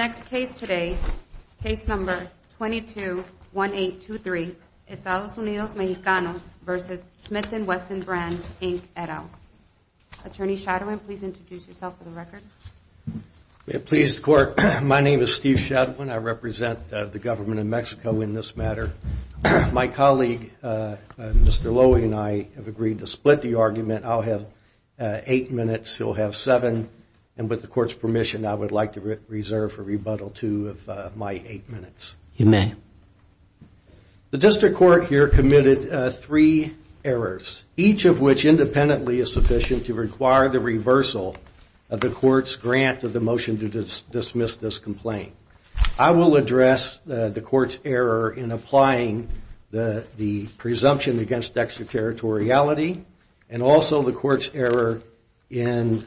Next case today, case number 221823, Estados Unidos Mexicanos v. Smith & Wesson Brands Inc. et al. Attorney Shadowin, please introduce yourself for the record. Pleased court, my name is Steve Shadowin. I represent the government of Mexico in this matter. My colleague, Mr. Lowy, and I have agreed to split the argument. I'll have eight minutes, he'll have seven. And with the court's permission, I would like to reserve for rebuttal two of my eight minutes. You may. The district court here committed three errors, each of which independently is sufficient to require the reversal of the court's grant of the motion to dismiss this complaint. I will address the court's error in applying the presumption against extraterritoriality. And also the court's error in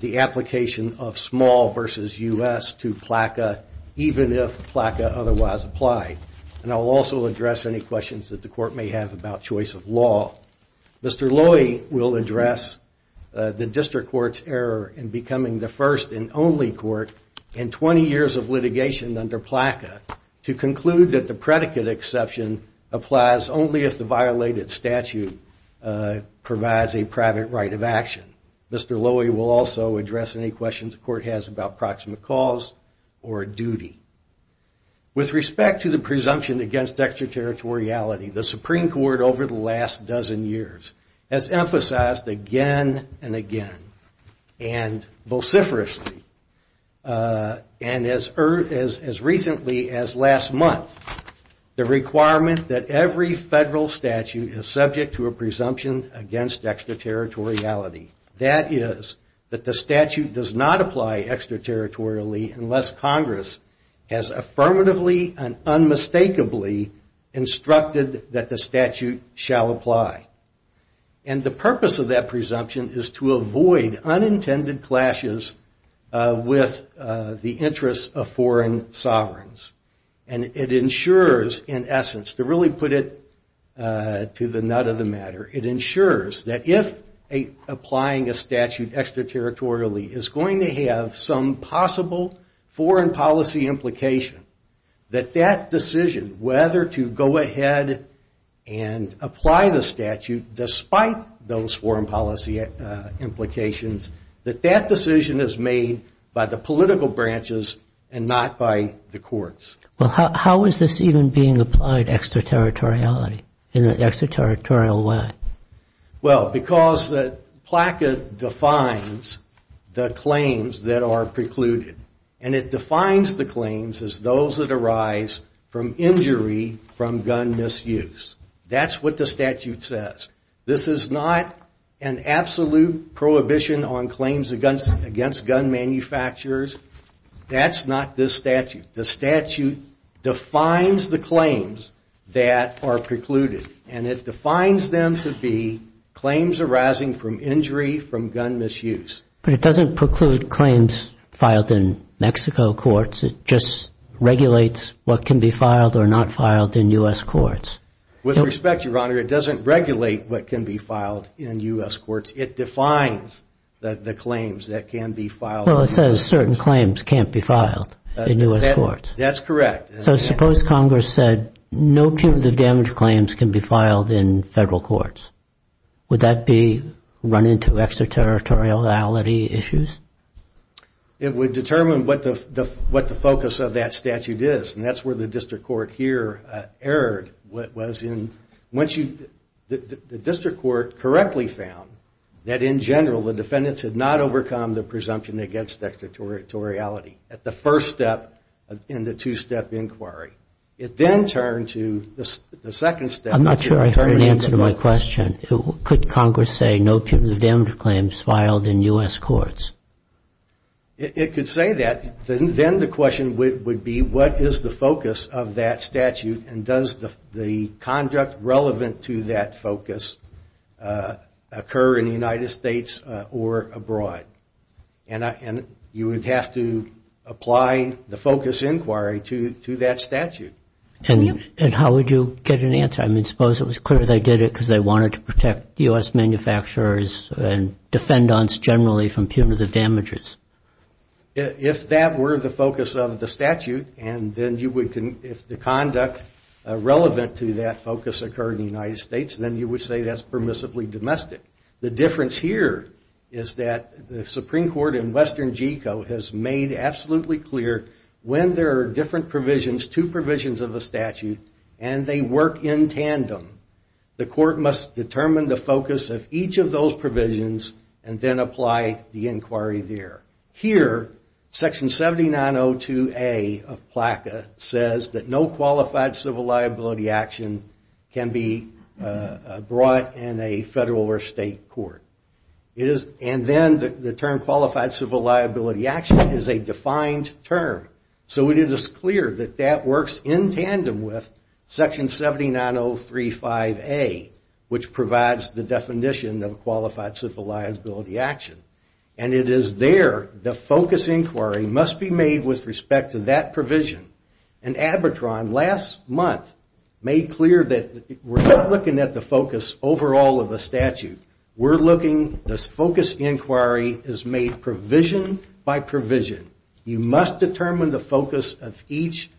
the application of small v. U.S. to PLACA, even if PLACA otherwise applied. And I'll also address any questions that the court may have about choice of law. Mr. Lowy will address the district court's error in becoming the first and only court in 20 years of litigation under PLACA to conclude that the predicate exception applies only if the violated statute provides a private right of action. Mr. Lowy will also address any questions the court has about proximate cause or duty. With respect to the presumption against extraterritoriality, the Supreme Court over the last dozen years has emphasized again and again and vociferously, and as recently as last month, the requirement that every federal statute is subject to a presumption against extraterritoriality. That is, that the statute does not apply extraterritorially unless Congress has affirmatively and unmistakably instructed that the statute shall apply. And the purpose of that presumption is to avoid unintended clashes with the interests of foreign sovereigns. And it ensures, in essence, to really put it to the nut of the matter, it ensures that if applying a statute extraterritorially is going to have some possible foreign policy implication, that that decision, whether to go ahead and apply the statute despite those foreign policy implications, that that decision is made by the political branches and not by the courts. Well, how is this even being applied extraterritoriality in an extraterritorial way? Well, because the plaquette defines the claims that are precluded. And it defines the claims as those that arise from injury from gun misuse. That's what the statute says. This is not an absolute prohibition on claims against gun manufacturers. That's not this statute. The statute defines the claims that are precluded. And it defines them to be claims arising from injury from gun misuse. But it doesn't preclude claims filed in Mexico courts. It just regulates what can be filed or not filed in U.S. courts. With respect, Your Honor, it doesn't regulate what can be filed in U.S. courts. Well, it says certain claims can't be filed in U.S. courts. That's correct. So suppose Congress said no punitive damage claims can be filed in federal courts. Would that be run into extraterritoriality issues? It would determine what the focus of that statute is. And that's where the district court here erred. The district court correctly found that, in general, the defendants had not overcome the presumption against extraterritoriality at the first step in the two-step inquiry. It then turned to the second step. I'm not sure I heard an answer to my question. Could Congress say no punitive damage claims filed in U.S. courts? It could say that. Then the question would be what is the focus of that statute and does the conduct relevant to that focus occur in the United States or abroad? And you would have to apply the focus inquiry to that statute. And how would you get an answer? I mean, suppose it was clear they did it because they wanted to protect U.S. manufacturers and defendants generally from punitive damages. If that were the focus of the statute, and then if the conduct relevant to that focus occurred in the United States, then you would say that's permissibly domestic. The difference here is that the Supreme Court in western GECO has made absolutely clear when there are different provisions, two provisions of a statute, and they work in tandem, the court must determine the focus of each of those provisions and then apply the inquiry there. Here, section 7902A of PLACA says that no qualified civil liability action can be brought in a federal or state court. And then the term qualified civil liability action is a defined term. So it is clear that that works in tandem with section 79035A, which provides the definition of a qualified civil liability action. And it is there the focus inquiry must be made with respect to that provision. And ABBATRON last month made clear that we're not looking at the focus overall of the statute. We're looking, this focus inquiry is made provision by provision. You must determine the focus of each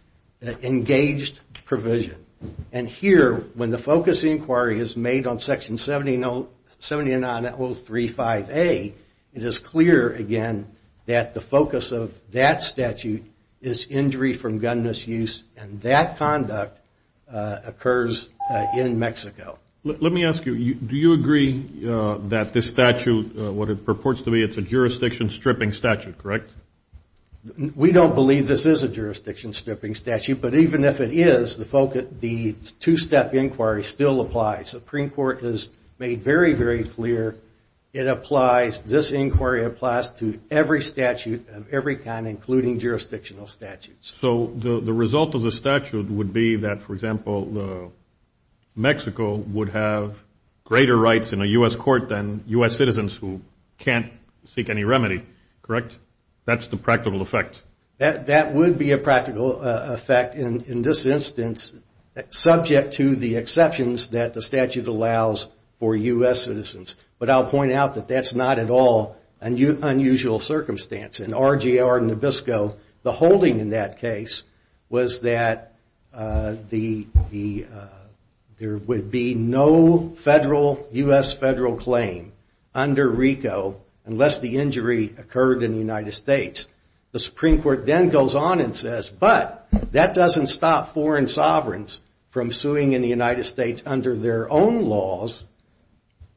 engaged provision. And here, when the focus inquiry is made on section 79035A, it is clear again that the focus of that statute is injury from gun misuse, and that conduct occurs in Mexico. Let me ask you, do you agree that this statute, what it purports to be, it's a jurisdiction stripping statute, correct? We don't believe this is a jurisdiction stripping statute, but even if it is, the two-step inquiry still applies. The Supreme Court has made very, very clear it applies, this inquiry applies to every statute of every kind, including jurisdictional statutes. So the result of the statute would be that, for example, Mexico would have greater rights in a U.S. court than U.S. citizens who can't seek any remedy, correct? That's the practical effect. That would be a practical effect in this instance, subject to the exceptions that the statute allows for U.S. citizens. But I'll point out that that's not at all an unusual circumstance. In RGR Nabisco, the holding in that case was that there would be no U.S. federal claim under RICO unless the injury occurred in the United States. The Supreme Court then goes on and says, but that doesn't stop foreign sovereigns from suing in the United States under their own laws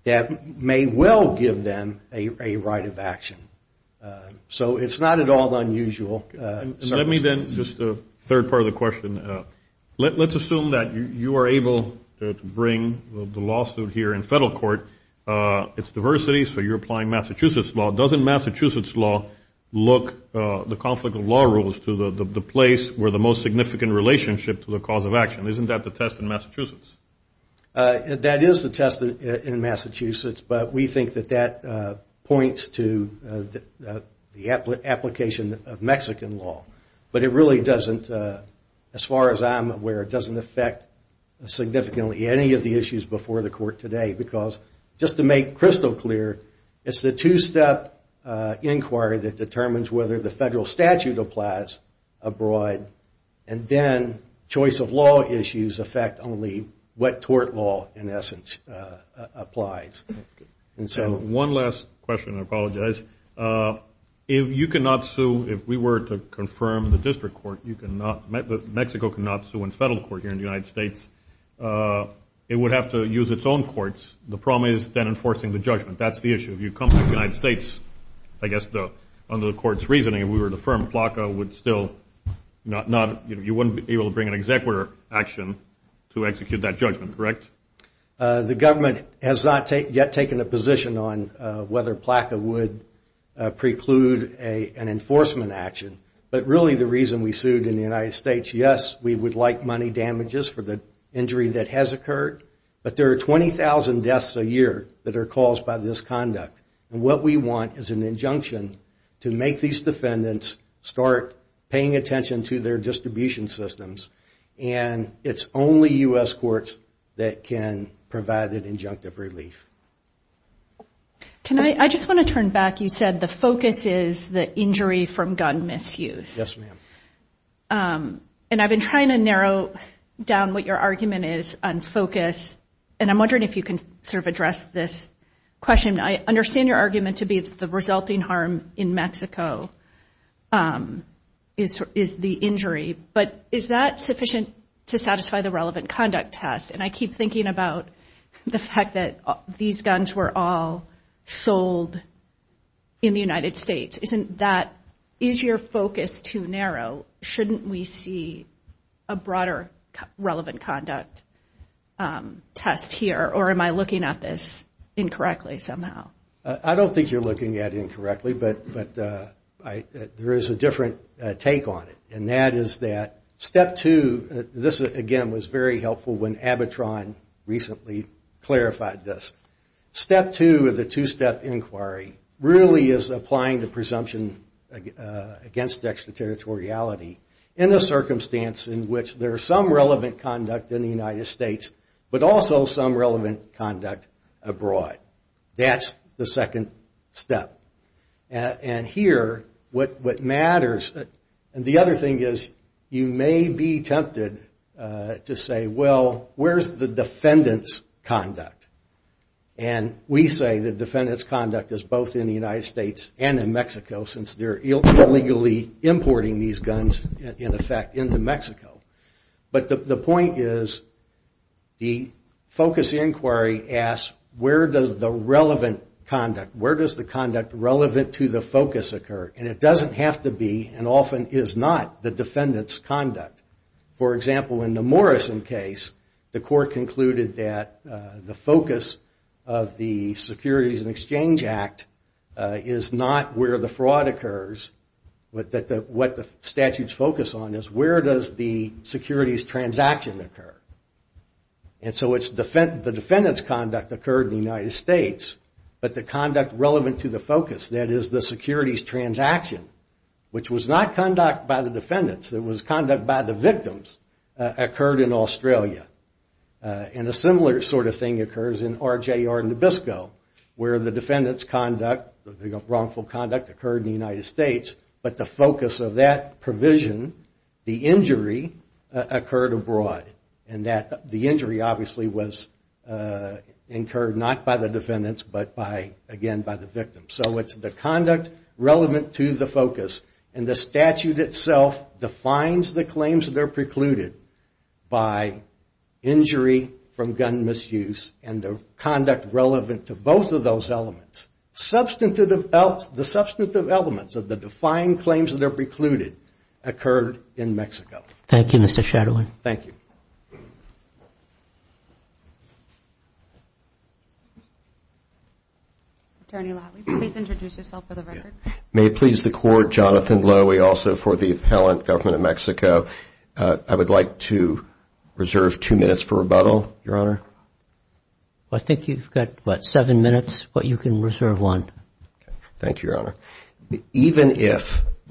that may well give them a right of action. So it's not at all unusual. Let me then, just a third part of the question, let's assume that you are able to bring the lawsuit here in federal court. It's diversity, so you're applying Massachusetts law. Doesn't Massachusetts law look the conflict of law rules to the place where the most significant relationship to the cause of action? Isn't that the test in Massachusetts? That is the test in Massachusetts, but we think that that points to the application of Mexican law. But it really doesn't, as far as I'm aware, doesn't affect significantly any of the issues before the court today because, just to make crystal clear, it's the two-step inquiry that determines whether the federal statute applies abroad, and then choice of law issues affect only what tort law, in essence, applies. One last question, I apologize. If you cannot sue, if we were to confirm the district court, Mexico cannot sue in federal court here in the United States, it would have to use its own courts. The problem is then enforcing the judgment. That's the issue. If you come to the United States, I guess under the court's reasoning, if we were to affirm PLACA would still not, you wouldn't be able to bring an executor action to execute that judgment, correct? The government has not yet taken a position on whether PLACA would preclude an enforcement action. But really the reason we sued in the United States, yes, we would like money damages for the injury that has occurred, but there are 20,000 deaths a year that are caused by this conduct. What we want is an injunction to make these defendants start paying attention to their distribution systems, and it's only U.S. courts that can provide an injunctive relief. I just want to turn back. You said the focus is the injury from gun misuse. Yes, ma'am. And I've been trying to narrow down what your argument is on focus, and I'm wondering if you can sort of address this question. I understand your argument to be the resulting harm in Mexico is the injury, but is that sufficient to satisfy the relevant conduct test? And I keep thinking about the fact that these guns were all sold in the United States. Is your focus too narrow? Shouldn't we see a broader relevant conduct test here, or am I looking at this incorrectly somehow? I don't think you're looking at it incorrectly, but there is a different take on it, and that is that step two, this again was very helpful when Abitron recently clarified this. Step two of the two-step inquiry really is applying the presumption against extraterritoriality in a circumstance in which there is some relevant conduct in the United States, but also some relevant conduct abroad. That's the second step. And here what matters, and the other thing is you may be tempted to say, well, where's the defendant's conduct? And we say the defendant's conduct is both in the United States and in Mexico since they're illegally importing these guns, in effect, into Mexico. But the point is the focus inquiry asks where does the relevant conduct, where does the conduct relevant to the focus occur, and it doesn't have to be and often is not the defendant's conduct. For example, in the Morrison case, the court concluded that the focus of the Securities and Exchange Act is not where the fraud occurs, but what the statutes focus on is where does the securities transaction occur. And so the defendant's conduct occurred in the United States, but the conduct relevant to the focus, that is the securities transaction, which was not conduct by the defendants, it was conduct by the victims, occurred in Australia. And a similar sort of thing occurs in RJR Nabisco where the defendant's conduct, the wrongful conduct, occurred in the United States, but the focus of that provision, the injury, occurred abroad. And the injury obviously was incurred not by the defendants, but again by the victims. So it's the conduct relevant to the focus, and the statute itself defines the claims that are precluded by injury from gun misuse and the conduct relevant to both of those elements. The substantive elements of the defined claims that are precluded occurred in Mexico. Thank you, Mr. Shadler. Thank you. Attorney Latley, please introduce yourself for the record. May it please the Court, Jonathan Lowy also for the Appellant Government of Mexico. I would like to reserve two minutes for rebuttal, Your Honor. I think you've got, what, seven minutes, but you can reserve one. Thank you, Your Honor. Even if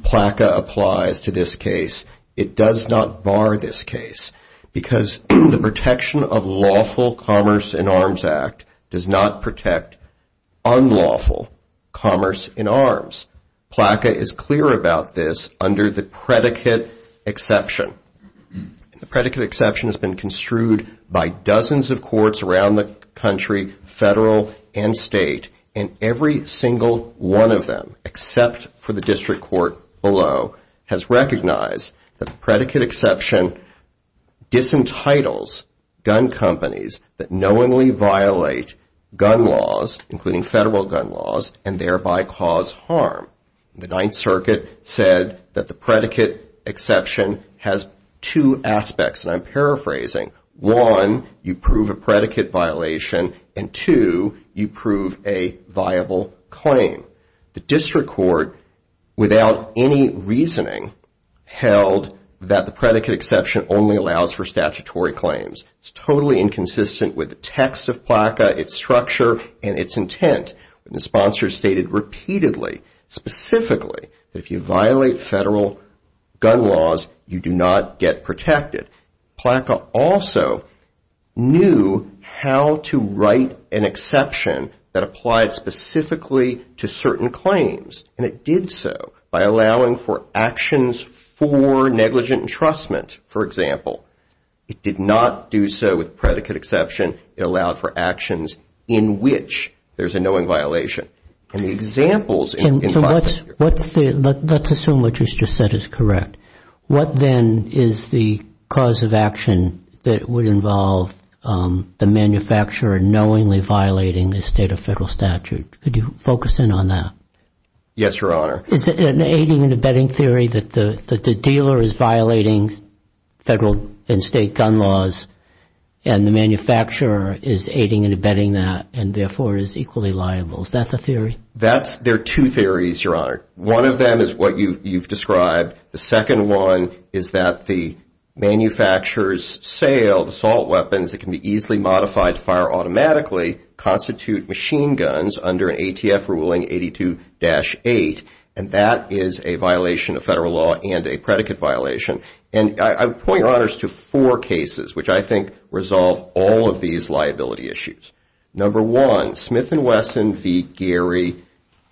PLACA applies to this case, it does not bar this case because the Protection of Lawful Commerce in Arms Act does not protect unlawful commerce in arms. PLACA is clear about this under the predicate exception. The predicate exception has been construed by dozens of courts around the country, federal and state, and every single one of them except for the district court below has recognized that the predicate exception disentitles gun companies that knowingly violate gun laws, including federal gun laws, and thereby cause harm. The Ninth Circuit said that the predicate exception has two aspects, and I'm paraphrasing. One, you prove a predicate violation, and two, you prove a viable claim. The district court, without any reasoning, held that the predicate exception only allows for statutory claims. It's totally inconsistent with the text of PLACA, its structure, and its intent. The sponsor stated repeatedly, specifically, that if you violate federal gun laws, you do not get protected. PLACA also knew how to write an exception that applied specifically to certain claims, and it did so by allowing for actions for negligent entrustment, for example. It did not do so with predicate exception. It allowed for actions in which there's a knowing violation. And the examples in PLACA... Let's assume what you just said is correct. What, then, is the cause of action that would involve the manufacturer knowingly violating the state or federal statute? Could you focus in on that? Yes, Your Honor. Is it an aiding and abetting theory that the dealer is violating federal and state gun laws, and the manufacturer is aiding and abetting that, and therefore is equally liable? Is that the theory? There are two theories, Your Honor. One of them is what you've described. The second one is that the manufacturer's sale of assault weapons that can be easily modified to fire automatically constitute machine guns under an ATF ruling 82-8, and that is a violation of federal law and a predicate violation. And I would point, Your Honors, to four cases which I think resolve all of these liability issues. Number one, Smith & Wesson v. Gary,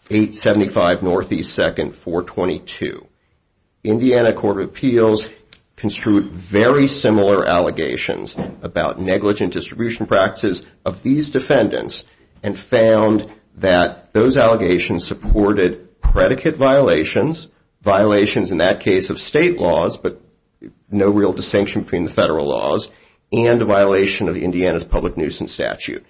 875 Northeast 2nd, 422. Indiana Court of Appeals construed very similar allegations about negligent distribution practices of these defendants and found that those allegations supported predicate violations, violations in that case of state laws, but no real distinction between the federal laws, and a violation of Indiana's public nuisance statute.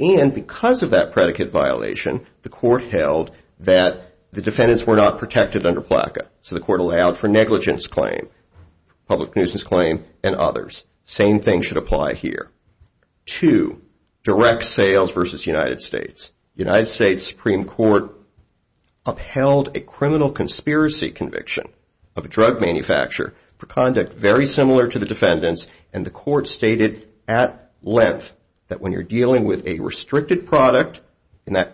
And because of that predicate violation, the court held that the defendants were not protected under PLACA, so the court allowed for negligence claim, public nuisance claim, and others. Same thing should apply here. Two, direct sales v. United States. United States Supreme Court upheld a criminal conspiracy conviction of a drug manufacturer for conduct very similar to the defendants, and the court stated at length that when you're dealing with a restricted product,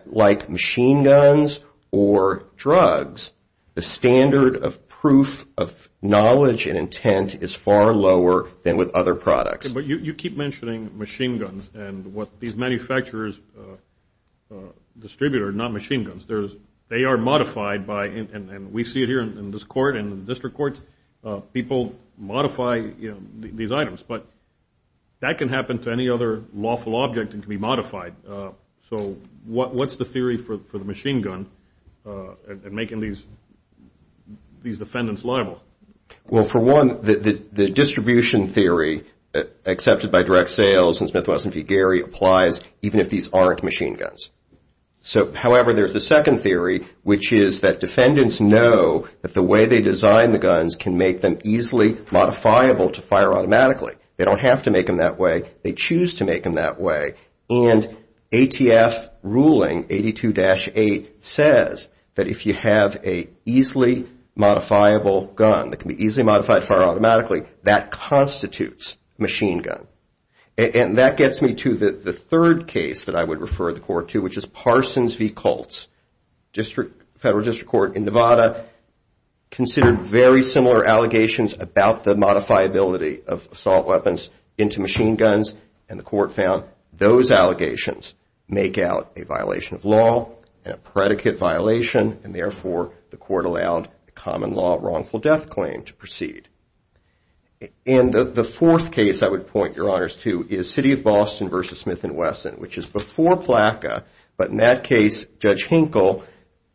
like machine guns or drugs, the standard of proof of knowledge and intent is far lower than with other products. But you keep mentioning machine guns, and what these manufacturers distribute are not machine guns. They are modified by, and we see it here in this court, people modify these items, but that can happen to any other lawful object and can be modified. So what's the theory for the machine gun and making these defendants liable? Well, for one, the distribution theory accepted by direct sales and Smith, Wess, and Vigueri applies even if these aren't machine guns. So, however, there's the second theory, which is that defendants know that the way they design the guns can make them easily modifiable to fire automatically. They don't have to make them that way. They choose to make them that way, and ATF ruling 82-A says that if you have an easily modifiable gun that can be easily modified to fire automatically, that constitutes machine gun. And that gets me to the third case that I would refer the court to, which is Parsons v. Colts. Federal District Court in Nevada considered very similar allegations about the modifiability of assault weapons into machine guns, and the court found those allegations make out a violation of law and a predicate violation, and therefore the court allowed the common law wrongful death claim to proceed. And the fourth case I would point your honors to is City of Boston v. Smith & Wesson, which is before PLACA, but in that case, Judge Hinkle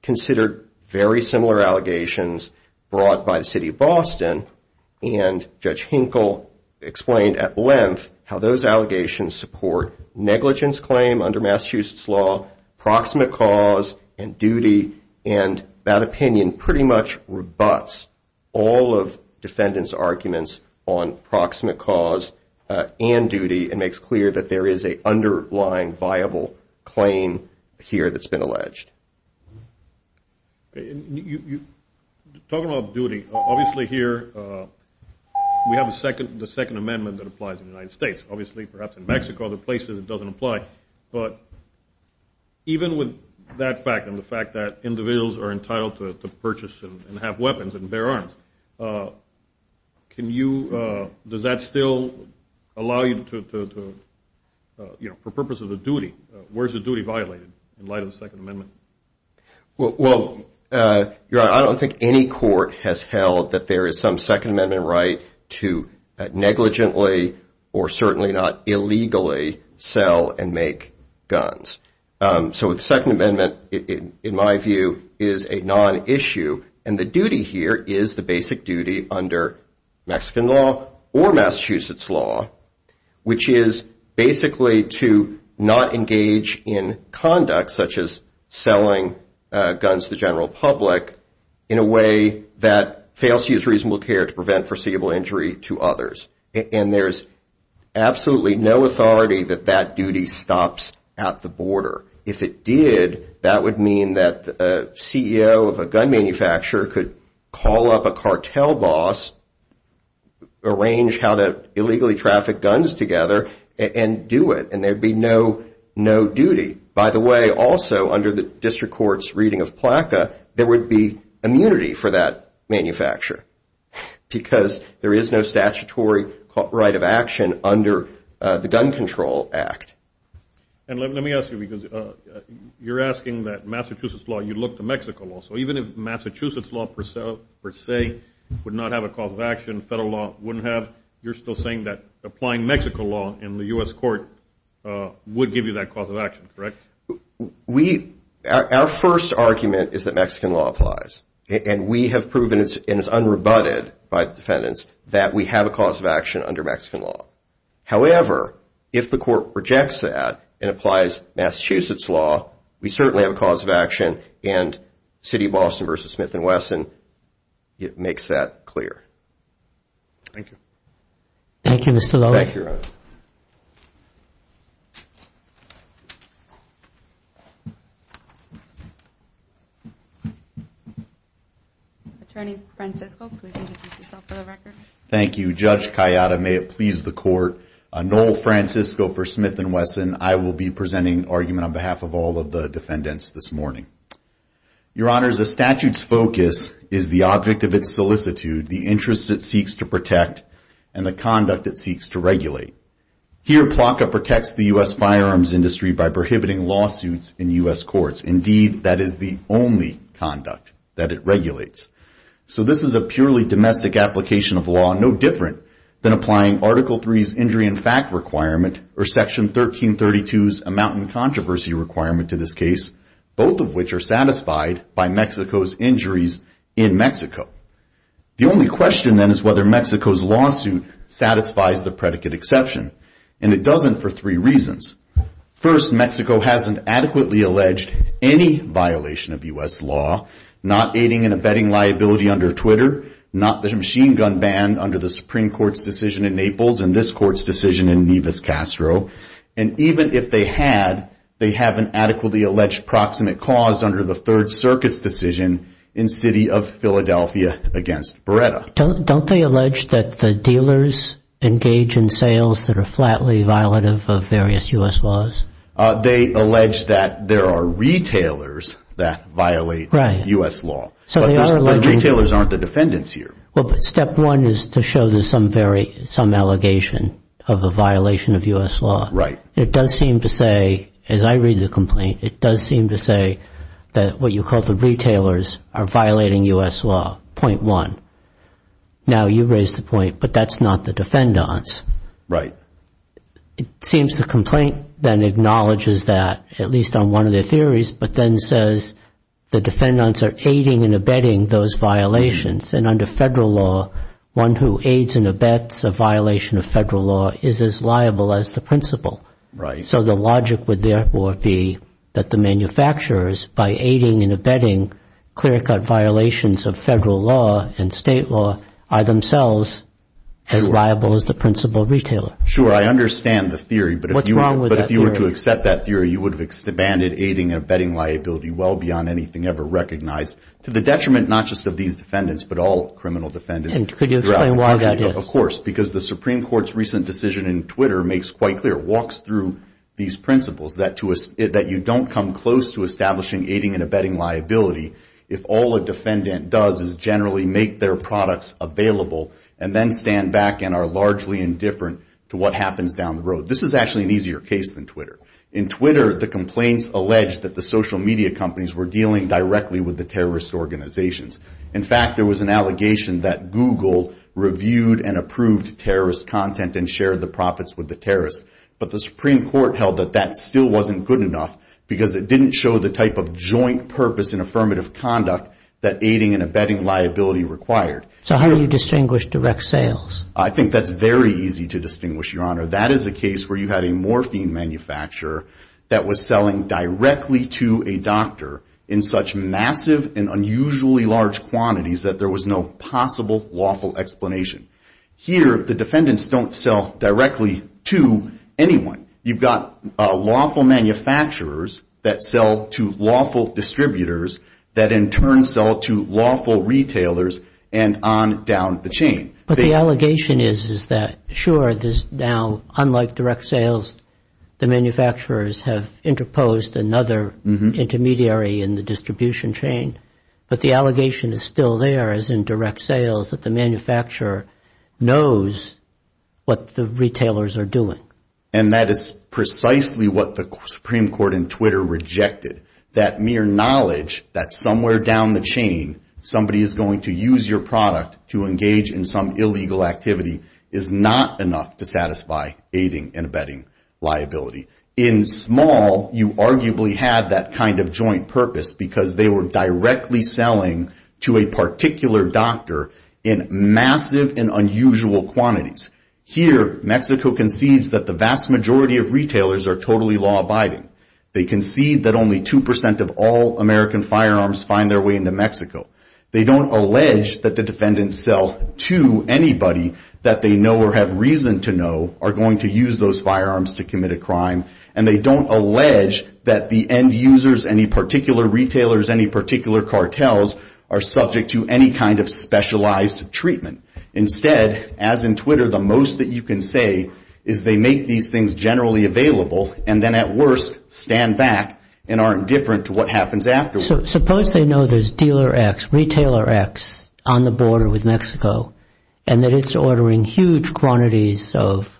considered very similar allegations brought by the City of Boston, and Judge Hinkle explained at length how those allegations support negligence claim under Massachusetts law, proximate cause, and duty, and that opinion pretty much rebuts all of defendants' arguments on proximate cause and duty and makes clear that there is an underlying viable claim here that's been alleged. Talking about duty, obviously here we have the Second Amendment that applies in the United States, obviously perhaps in Mexico, other places it doesn't apply, but even with that fact and the fact that individuals are entitled to purchase and have weapons and bear arms, does that still allow you to, for purpose of the duty, where is the duty violated in light of the Second Amendment? Well, your honor, I don't think any court has held that there is some Second Amendment right to negligently or certainly not illegally sell and make guns. So the Second Amendment, in my view, is a non-issue, and the duty here is the basic duty under Mexican law or Massachusetts law, which is basically to not engage in conduct such as selling guns to the general public in a way that fails to use reasonable care to prevent foreseeable injury to others. And there's absolutely no authority that that duty stops at the border. If it did, that would mean that the CEO of a gun manufacturer could call up a cartel boss, arrange how to illegally traffic guns together, and do it, and there'd be no duty. By the way, also under the district court's reading of PLACA, there would be immunity for that manufacturer because there is no statutory right of action under the Gun Control Act. And let me ask you, because you're asking that Massachusetts law, you look to Mexico law. So even if Massachusetts law per se would not have a cause of action, federal law wouldn't have, you're still saying that applying Mexico law in the U.S. court would give you that cause of action, correct? Our first argument is that Mexican law applies, and we have proven, and it's unrebutted by the defendants, that we have a cause of action under Mexican law. However, if the court rejects that and applies Massachusetts law, we certainly have a cause of action, and City of Boston v. Smith & Wesson, it makes that clear. Thank you. Thank you, Mr. Lowe. Thank you, Your Honor. Attorney Francisco, please introduce yourself for the record. Thank you, Judge Kayada. May it please the court, Noel Francisco v. Smith & Wesson, I will be presenting argument on behalf of all of the defendants this morning. Your Honors, a statute's focus is the object of its solicitude, the interest it seeks to protect, and the conduct it seeks to regulate. Here, PLACA protects the U.S. firearms industry by prohibiting lawsuits in U.S. courts. Indeed, that is the only conduct that it regulates. So this is a purely domestic application of law, no different than applying Article III's injury in fact requirement, or Section 1332's amount in controversy requirement to this case, both of which are satisfied by Mexico's injuries in Mexico. The only question, then, is whether Mexico's lawsuit satisfies the predicate exception, and it doesn't for three reasons. First, Mexico hasn't adequately alleged any violation of U.S. law, not aiding and abetting liability under Twitter, not the machine gun ban under the Supreme Court's decision in Naples, and this court's decision in Nevis-Castro. And even if they had, they haven't adequately alleged proximate cause under the Third Circuit's decision in City of Philadelphia against Beretta. Don't they allege that the dealers engage in sales that are flatly violative of various U.S. laws? They allege that there are retailers that violate U.S. law. But the retailers aren't the defendants here. Step one is to show there's some allegation of a violation of U.S. law. Right. It does seem to say, as I read the complaint, it does seem to say that what you call the retailers are violating U.S. law, point one. Now you raise the point, but that's not the defendants. Right. It seems the complaint then acknowledges that, at least on one of their theories, but then says the defendants are aiding and abetting those violations, and under Federal law, one who aids and abets a violation of Federal law is as liable as the principal. Right. So the logic would therefore be that the manufacturers, by aiding and abetting clear-cut violations of Federal law and State law, are themselves as liable as the principal retailer. Sure. I understand the theory. What's wrong with that theory? But if you were to accept that theory, you would have abandoned aiding and abetting liability well beyond anything ever recognized, to the detriment not just of these defendants, but all criminal defendants. Could you explain why that is? Of course. Because the Supreme Court's recent decision in Twitter makes quite clear, walks through these principles, that you don't come close to establishing aiding and abetting liability if all a defendant does is generally make their products available and then stand back and are largely indifferent to what happens down the road. This is actually an easier case than Twitter. In Twitter, the complaints alleged that the social media companies were dealing directly with the terrorist organizations. In fact, there was an allegation that Google reviewed and approved terrorist content and shared the profits with the terrorists. But the Supreme Court held that that still wasn't good enough because it didn't show the type of joint purpose and affirmative conduct that aiding and abetting liability required. So how do you distinguish direct sales? I think that's very easy to distinguish, Your Honor. That is a case where you had a morphine manufacturer that was selling directly to a doctor in such massive and unusually large quantities that there was no possible lawful explanation. Here, the defendants don't sell directly to anyone. You've got lawful manufacturers that sell to lawful distributors that in turn sell to lawful retailers and on down the chain. But the allegation is that, sure, now unlike direct sales, the manufacturers have interposed another intermediary in the distribution chain. But the allegation is still there as in direct sales that the manufacturer knows what the retailers are doing. And that is precisely what the Supreme Court in Twitter rejected, that mere knowledge that somewhere down the chain somebody is going to use your product to engage in some illegal activity is not enough to satisfy aiding and abetting liability. In small, you arguably had that kind of joint purpose because they were directly selling to a particular doctor in massive and unusual quantities. Here, Mexico concedes that the vast majority of retailers are totally law-abiding. They concede that only 2% of all American firearms find their way into Mexico. They don't allege that the defendants sell to anybody that they know or have reason to know are going to use those firearms to commit a crime. And they don't allege that the end users, any particular retailers, any particular cartels are subject to any kind of specialized treatment. Instead, as in Twitter, the most that you can say is they make these things generally available and then at worst stand back and are indifferent to what happens afterwards. Suppose they know there's dealer X, retailer X on the border with Mexico and that it's ordering huge quantities of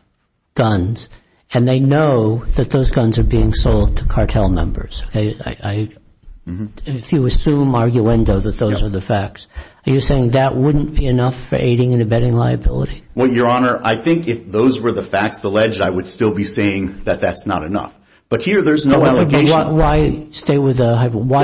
guns and they know that those guns are being sold to cartel members. If you assume arguendo that those are the facts, are you saying that wouldn't be enough for aiding and abetting liability? Well, Your Honor, I think if those were the facts alleged, I would still be saying that that's not enough. But here there's no allegation. Why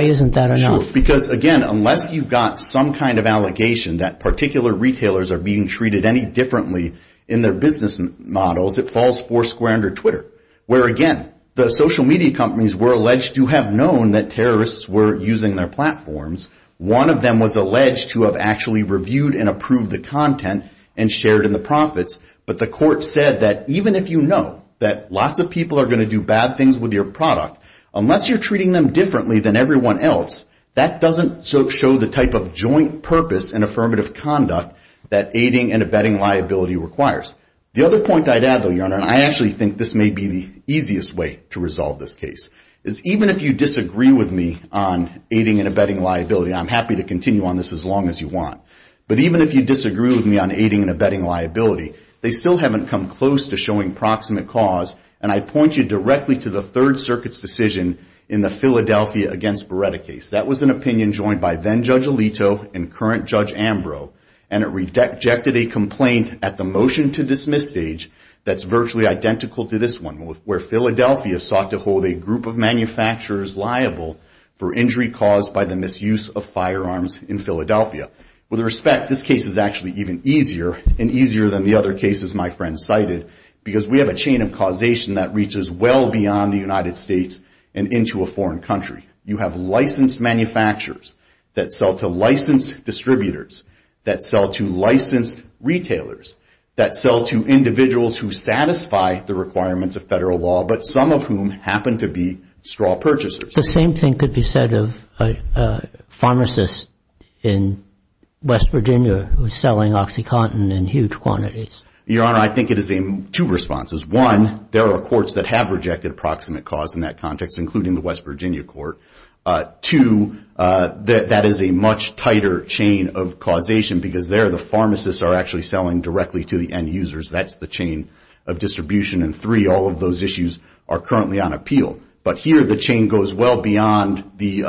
isn't that enough? Because, again, unless you've got some kind of allegation that particular retailers are being treated any differently in their business models, it falls four square under Twitter, where, again, the social media companies were alleged to have known that terrorists were using their platforms. One of them was alleged to have actually reviewed and approved the content and shared in the profits. But the court said that even if you know that lots of people are going to do bad things with your product, unless you're treating them differently than everyone else, that doesn't show the type of joint purpose and affirmative conduct that aiding and abetting liability requires. The other point I'd add, though, Your Honor, and I actually think this may be the easiest way to resolve this case, is even if you disagree with me on aiding and abetting liability, and I'm happy to continue on this as long as you want, but even if you disagree with me on aiding and abetting liability, they still haven't come close to showing proximate cause, and I point you directly to the Third Circuit's decision in the Philadelphia against Beretta case. That was an opinion joined by then-Judge Alito and current-Judge Ambrose, and it rejected a complaint at the motion-to-dismiss stage that's virtually identical to this one, where Philadelphia sought to hold a group of manufacturers liable for injury caused by the misuse of firearms in Philadelphia. With respect, this case is actually even easier, and easier than the other cases my friend cited, because we have a chain of causation that reaches well beyond the United States and into a foreign country. You have licensed manufacturers that sell to licensed distributors, that sell to licensed retailers, that sell to individuals who satisfy the requirements of federal law, but some of whom happen to be straw purchasers. The same thing could be said of a pharmacist in West Virginia who is selling OxyContin in huge quantities. Your Honor, I think it is two responses. One, there are courts that have rejected proximate cause in that context, including the West Virginia court. Two, that is a much tighter chain of causation, because there the pharmacists are actually selling directly to the end users. That's the chain of distribution. And three, all of those issues are currently on appeal. But here the chain goes well beyond the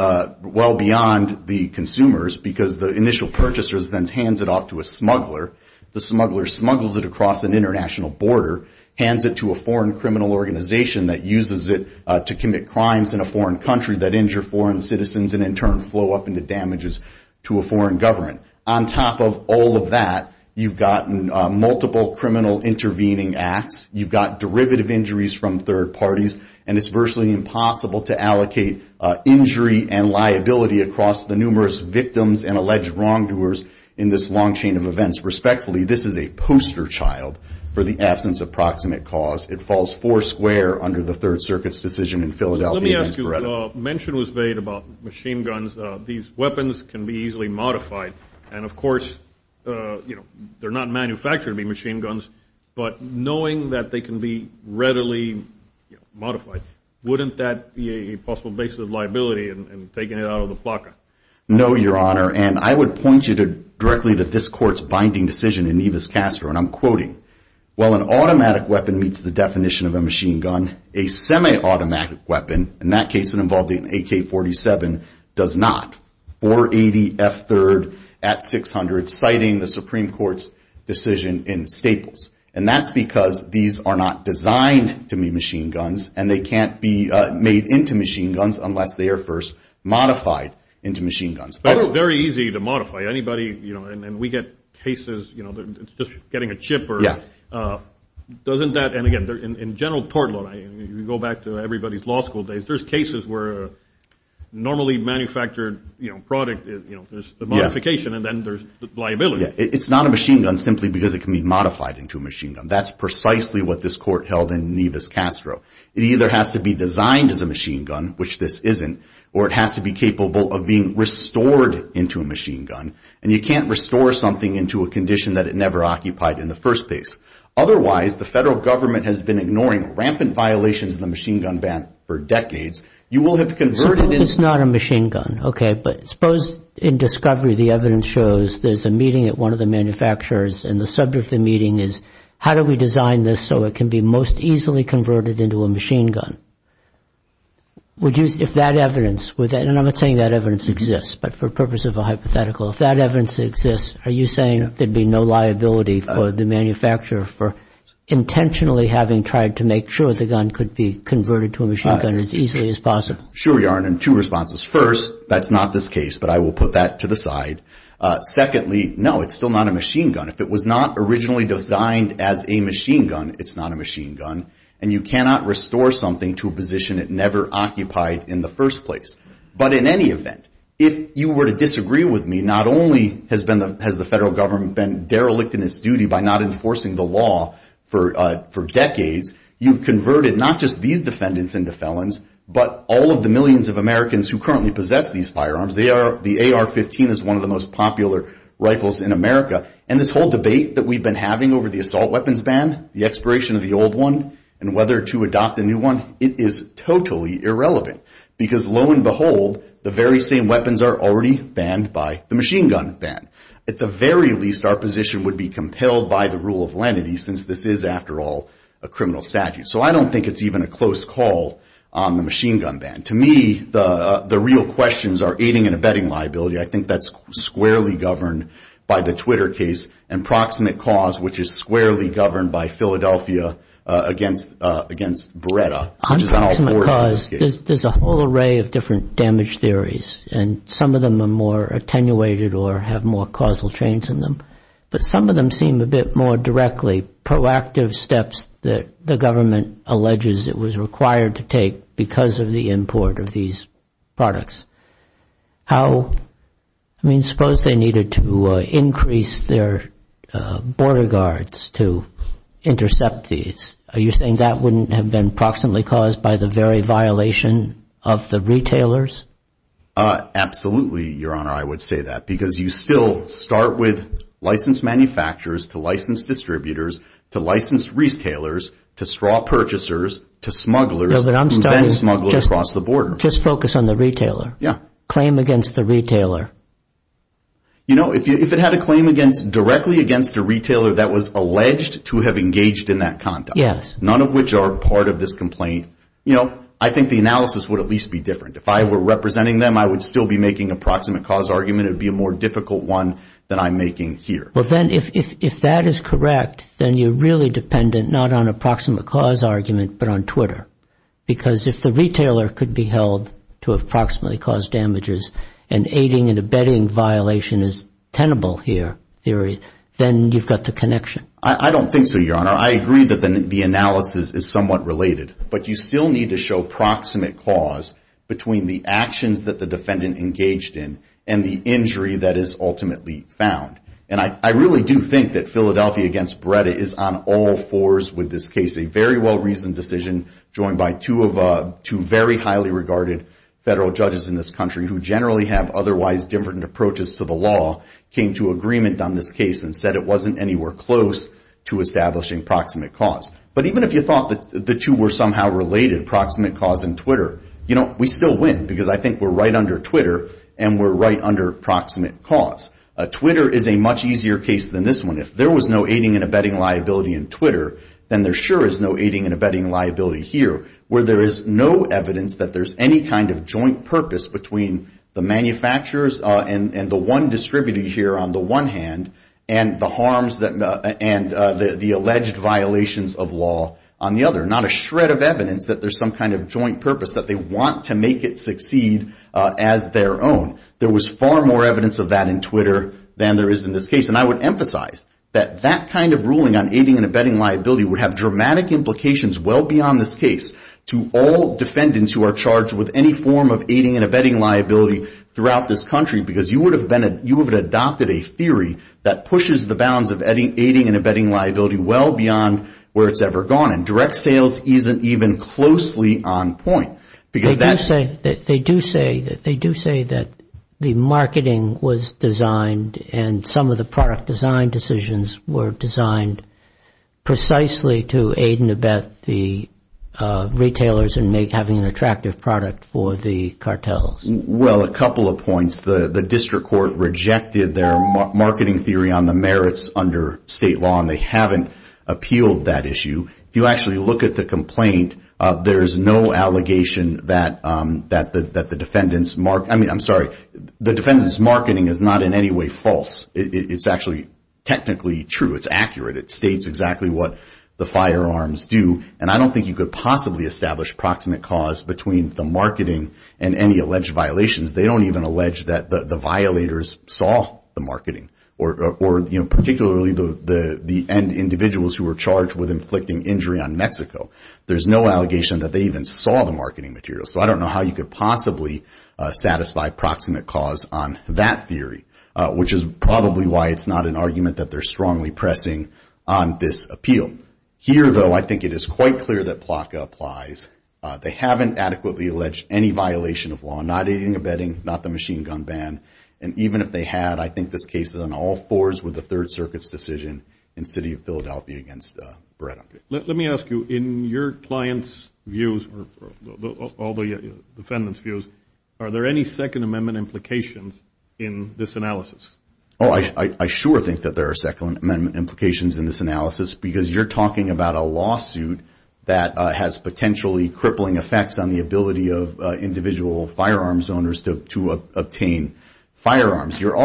consumers, because the initial purchaser then hands it off to a smuggler. The smuggler smuggles it across an international border, hands it to a foreign criminal organization that uses it to commit crimes in a foreign country that injure foreign citizens and in turn flow up into damages to a foreign government. On top of all of that, you've gotten multiple criminal intervening acts. You've got derivative injuries from third parties, and it's virtually impossible to allocate injury and liability across the numerous victims and alleged wrongdoers in this long chain of events. Respectfully, this is a poster child for the absence of proximate cause. It falls four square under the Third Circuit's decision in Philadelphia. Let me ask you, mention was made about machine guns. These weapons can be easily modified. And, of course, they're not manufactured to be machine guns, but knowing that they can be readily modified, wouldn't that be a possible basis of liability in taking it out of the placa? No, Your Honor, and I would point you directly to this Court's binding decision in Nevis-Castro, and I'm quoting. While an automatic weapon meets the definition of a machine gun, a semi-automatic weapon, in that case it involved an AK-47, does not. 480 F-3rd at 600, citing the Supreme Court's decision in Staples. And that's because these are not designed to be machine guns, and they can't be made into machine guns unless they are first modified into machine guns. But it's very easy to modify. Anybody, you know, and we get cases, you know, just getting a chip or... Yeah. Doesn't that, and again, in general tort law, you go back to everybody's law school days, there's cases where normally manufactured, you know, product, you know, there's a modification and then there's liability. It's not a machine gun simply because it can be modified into a machine gun. That's precisely what this Court held in Nevis-Castro. It either has to be designed as a machine gun, which this isn't, or it has to be capable of being restored into a machine gun, and you can't restore something into a condition that it never occupied in the first place. Otherwise, the federal government has been ignoring rampant violations of the machine gun ban for decades. You will have to convert it into... Suppose it's not a machine gun, okay, but suppose in discovery the evidence shows there's a meeting at one of the manufacturers, and the subject of the meeting is how do we design this so it can be most easily converted into a machine gun? Would you, if that evidence, and I'm not saying that evidence exists, but for purpose of a hypothetical, if that evidence exists, are you saying there'd be no liability for the manufacturer for intentionally having tried to make sure the gun could be converted to a machine gun as easily as possible? Sure we are, and in two responses. First, that's not this case, but I will put that to the side. Secondly, no, it's still not a machine gun. If it was not originally designed as a machine gun, it's not a machine gun, and you cannot restore something to a position it never occupied in the first place. But in any event, if you were to disagree with me, not only has the federal government been derelict in its duty by not enforcing the law for decades, you've converted not just these defendants into felons, but all of the millions of Americans who currently possess these firearms. The AR-15 is one of the most popular rifles in America, and this whole debate that we've been having over the assault weapons ban, the expiration of the old one, and whether to adopt a new one, it is totally irrelevant, because lo and behold, the very same weapons are already banned by the machine gun ban. At the very least, our position would be compelled by the rule of lenity, since this is, after all, a criminal statute. So I don't think it's even a close call on the machine gun ban. To me, the real questions are aiding and abetting liability. I think that's squarely governed by the Twitter case, and proximate cause, which is squarely governed by Philadelphia against Beretta. There's a whole array of different damage theories, and some of them are more attenuated or have more causal chains in them, but some of them seem a bit more directly proactive steps that the government alleges it was required to take because of the import of these products. I mean, suppose they needed to increase their border guards to intercept these. Are you saying that wouldn't have been proximately caused by the very violation of the retailers? Absolutely, Your Honor, I would say that, because you still start with licensed manufacturers to licensed distributors to licensed retailers to straw purchasers to smugglers who then smuggle across the border. Just focus on the retailer. Claim against the retailer. You know, if it had a claim directly against a retailer that was alleged to have engaged in that conduct, none of which are part of this complaint, I think the analysis would at least be different. If I were representing them, I would still be making a proximate cause argument. It would be a more difficult one than I'm making here. Well, then, if that is correct, then you're really dependent not on a proximate cause argument but on Twitter, because if the retailer could be held to have proximately caused damages and aiding and abetting violation is tenable here, then you've got the connection. I don't think so, Your Honor. I agree that the analysis is somewhat related, but you still need to show proximate cause between the actions that the defendant engaged in and the injury that is ultimately found. And I really do think that Philadelphia v. Beretta is on all fours with this case. A very well-reasoned decision joined by two very highly regarded federal judges in this country who generally have otherwise different approaches to the law came to agreement on this case and said it wasn't anywhere close to establishing proximate cause. But even if you thought that the two were somehow related, proximate cause and Twitter, we still win because I think we're right under Twitter and we're right under proximate cause. Twitter is a much easier case than this one. If there was no aiding and abetting liability in Twitter, then there sure is no aiding and abetting liability here, where there is no evidence that there's any kind of joint purpose between the manufacturers and the one distributed here on the one hand and the harms and the alleged violations of law on the other. Not a shred of evidence that there's some kind of joint purpose, that they want to make it succeed as their own. There was far more evidence of that in Twitter than there is in this case. And I would emphasize that that kind of ruling on aiding and abetting liability would have dramatic implications well beyond this case to all defendants who are charged with any form of aiding and abetting liability throughout this country because you would have adopted a theory that pushes the bounds of aiding and abetting liability well beyond where it's ever gone and direct sales isn't even closely on point. They do say that the marketing was designed and some of the product design decisions were designed precisely to aid and abet the retailers in having an attractive product for the cartels. Well, a couple of points. The district court rejected their marketing theory on the merits under state law, and they haven't appealed that issue. If you actually look at the complaint, there is no allegation that the defendant's marketing is not in any way false. It's actually technically true. It's accurate. It states exactly what the firearms do, and I don't think you could possibly establish proximate cause between the marketing and any alleged violations. They don't even allege that the violators saw the marketing, or particularly the end individuals who were charged with inflicting injury on Mexico. There's no allegation that they even saw the marketing material, so I don't know how you could possibly satisfy proximate cause on that theory, which is probably why it's not an argument that they're strongly pressing on this appeal. Here, though, I think it is quite clear that PLACA applies. They haven't adequately alleged any violation of law, not aid and abetting, not the machine gun ban, and even if they had, I think this case is on all fours with the Third Circuit's decision in the city of Philadelphia against Beretta. Let me ask you, in your client's views, all the defendant's views, are there any Second Amendment implications in this analysis? Oh, I sure think that there are Second Amendment implications in this analysis, because you're talking about a lawsuit that has potentially crippling effects on the ability of individual firearms owners to obtain firearms. They're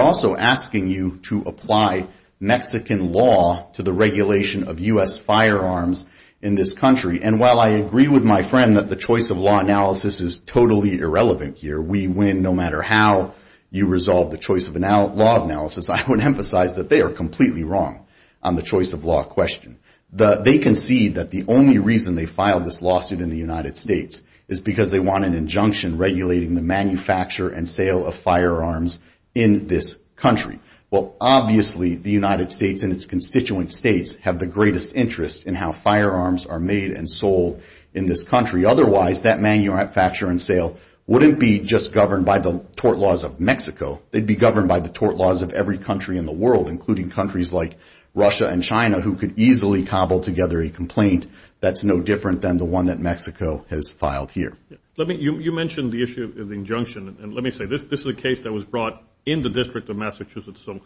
also asking you to apply Mexican law to the regulation of U.S. firearms in this country, and while I agree with my friend that the choice of law analysis is totally irrelevant here, we win no matter how you resolve the choice of law analysis, I would emphasize that they are completely wrong on the choice of law question. They concede that the only reason they filed this lawsuit in the United States is because they want an injunction regulating the manufacture and sale of firearms in this country. Well, obviously the United States and its constituent states have the greatest interest in how firearms are made and sold in this country. Otherwise, that manufacture and sale wouldn't be just governed by the tort laws of Mexico, they'd be governed by the tort laws of every country in the world, including countries like Russia and China, who could easily cobble together a complaint that's no different than the one that Mexico has filed here. You mentioned the issue of the injunction, and let me say, this is a case that was brought in the District of Massachusetts, so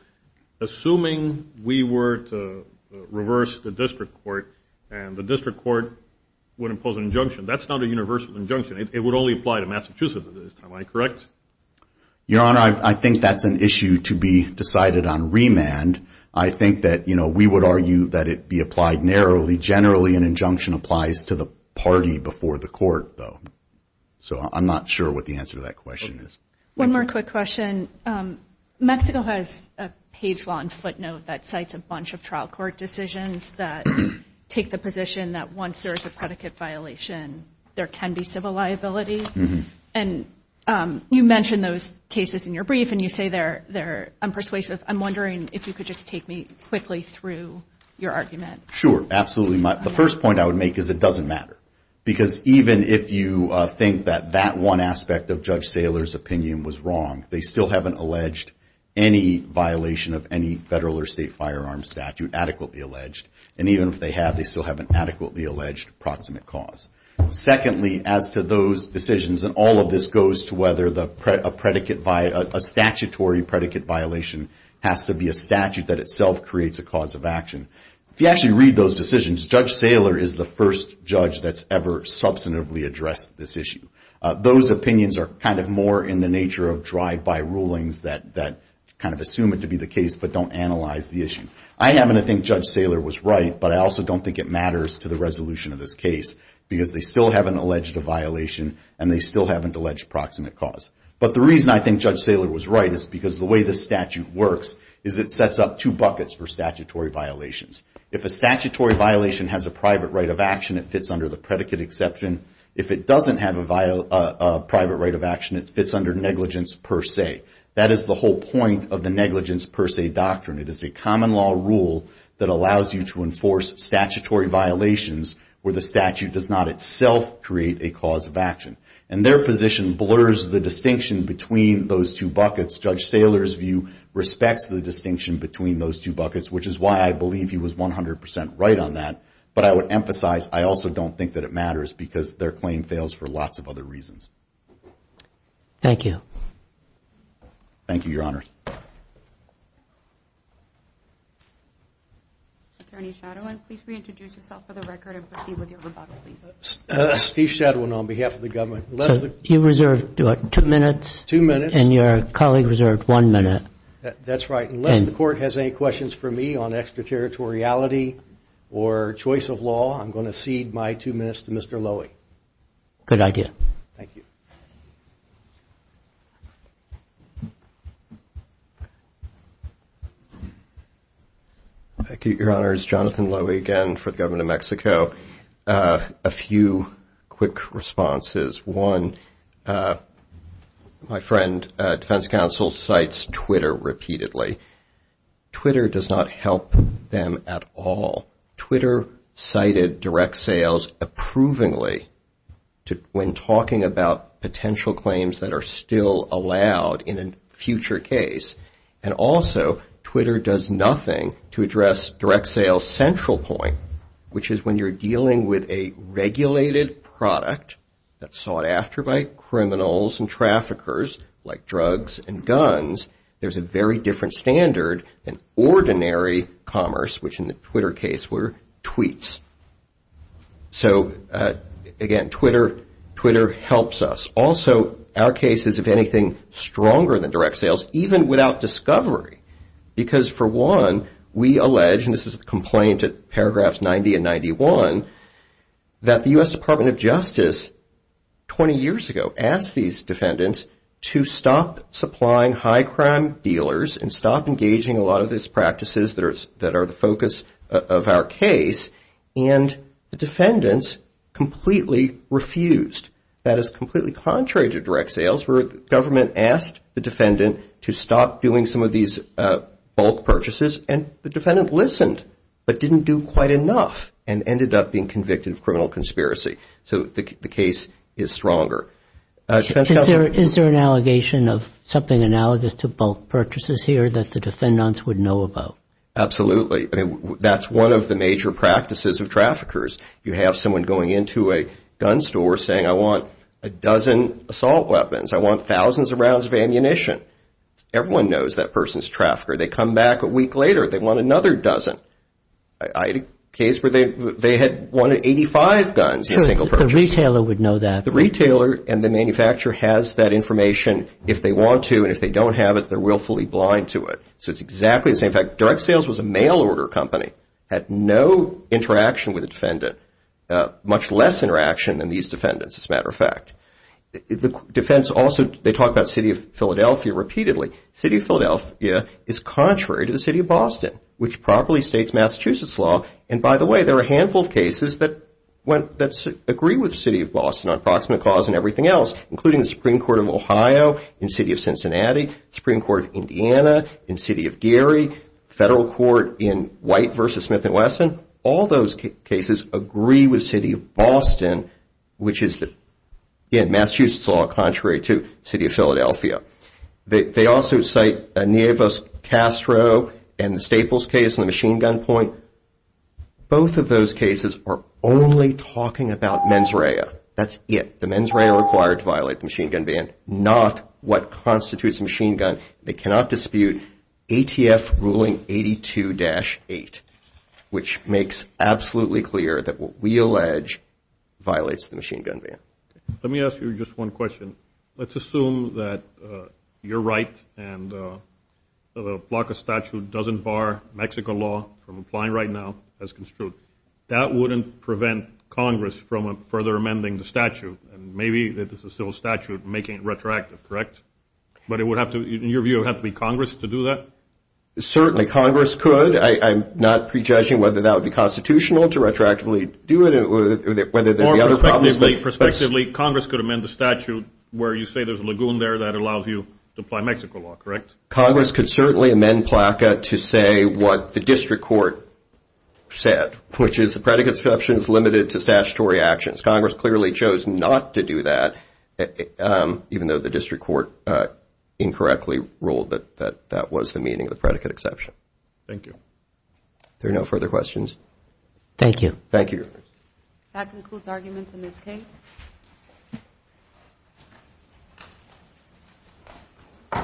assuming we were to reverse the district court and the district court would impose an injunction, that's not a universal injunction, it would only apply to Massachusetts at this time, am I correct? Your Honor, I think that's an issue to be decided on remand. I think that we would argue that it be applied narrowly. Generally, an injunction applies to the party before the court, though. So I'm not sure what the answer to that question is. One more quick question. Mexico has a page long footnote that cites a bunch of trial court decisions that take the position that once there's a predicate violation, there can be civil liability. And you mentioned those cases in your brief, and you say they're unpersuasive. I'm wondering if you could just take me quickly through your argument. Sure, absolutely. The first point I would make is it doesn't matter. Because even if you think that that one aspect of Judge Saylor's opinion was wrong, they still haven't alleged any violation of any federal or state firearm statute adequately alleged. And even if they have, they still haven't adequately alleged proximate cause. Secondly, as to those decisions, and all of this goes to whether a statutory predicate violation has to be a statute that itself creates a cause of action. If you actually read those decisions, Judge Saylor is the first judge that's ever substantively addressed this issue. Those opinions are kind of more in the nature of drive-by rulings that kind of assume it to be the case but don't analyze the issue. I happen to think Judge Saylor was right, but I also don't think it matters to the resolution of this case. Because they still haven't alleged a violation, and they still haven't alleged proximate cause. But the reason I think Judge Saylor was right is because the way the statute works is it sets up two buckets for statutory violations. If a statutory violation has a private right of action, it fits under the predicate exception. If it doesn't have a private right of action, it fits under negligence per se. That is the whole point of the negligence per se doctrine. It is a common law rule that allows you to enforce statutory violations where the statute does not itself create a cause of action. And their position blurs the distinction between those two buckets. Judge Saylor's view respects the distinction between those two buckets, which is why I believe he was 100 percent right on that. But I would emphasize I also don't think that it matters because their claim fails for lots of other reasons. Thank you. Thank you, Your Honor. Attorney Shadowin, please reintroduce yourself for the record and proceed with your rebuttal, please. Steve Shadowin on behalf of the government. You reserved, what, two minutes? Two minutes. And your colleague reserved one minute. That's right. Unless the court has any questions for me on extraterritoriality or choice of law, I'm going to cede my two minutes to Mr. Lowy. Good idea. Thank you. Thank you, Your Honors. Jonathan Lowy again for the government of Mexico. A few quick responses. One, my friend, defense counsel, cites Twitter repeatedly. Twitter does not help them at all. Twitter cited direct sales approvingly when talking about potential claims that are still allowed in a future case. And also, Twitter does nothing to address direct sales' central point, which is when you're dealing with a regulated product that's sought after by criminals and traffickers, like drugs and guns, there's a very different standard than ordinary commerce, which in the Twitter case were tweets. So, again, Twitter helps us. Also, our case is, if anything, stronger than direct sales, even without discovery. Because, for one, we allege, and this is a complaint at paragraphs 90 and 91, that the U.S. Department of Justice 20 years ago asked these defendants to stop supplying high crime dealers and stop engaging a lot of these practices that are the focus of our case. And the defendants completely refused. That is completely contrary to direct sales, where the government asked the defendant to stop doing some of these bulk purchases. And the defendant listened, but didn't do quite enough and ended up being convicted of criminal conspiracy. So the case is stronger. Is there an allegation of something analogous to bulk purchases here that the defendants would know about? Absolutely. I mean, that's one of the major practices of traffickers. You have someone going into a gun store saying, I want a dozen assault weapons, I want thousands of rounds of ammunition. Everyone knows that person's a trafficker. They come back a week later, they want another dozen. I had a case where they had wanted 85 guns in a single purchase. So the retailer would know that. The retailer and the manufacturer has that information if they want to. And if they don't have it, they're willfully blind to it. So it's exactly the same thing. In fact, direct sales was a mail order company. It had no interaction with the defendant, much less interaction than these defendants, as a matter of fact. The defense also, they talk about the city of Philadelphia repeatedly. The city of Philadelphia is contrary to the city of Boston, which properly states Massachusetts law. And by the way, there are a handful of cases that agree with the city of Boston on proximate cause and everything else, including the Supreme Court of Ohio in the city of Cincinnati, the Supreme Court of Indiana in the city of Gary, federal court in White v. Smith & Wesson. All those cases agree with the city of Boston, which is in Massachusetts law contrary to the city of Philadelphia. They also cite Nieves-Castro and the Staples case in the machine gun point. Both of those cases are only talking about mens rea. That's it. The mens rea are required to violate the machine gun ban, not what constitutes a machine gun. They cannot dispute ATF ruling 82-8, which makes absolutely clear that what we allege violates the machine gun ban. Let me ask you just one question. Let's assume that you're right and the block of statute doesn't bar Mexico law from applying right now as construed. That wouldn't prevent Congress from further amending the statute. Maybe it's a civil statute making it retroactive, correct? But in your view, it would have to be Congress to do that? Certainly, Congress could. I'm not prejudging whether that would be constitutional to retroactively do it or whether there would be other problems. Perspectively, Congress could amend the statute where you say there's a lagoon there that allows you to apply Mexico law, correct? Congress could certainly amend PLACA to say what the district court said, which is the predicate exception is limited to statutory actions. Congress clearly chose not to do that, even though the district court incorrectly ruled that that was the meaning of the predicate exception. Thank you. Are there no further questions? Thank you. Thank you. That concludes arguments in this case.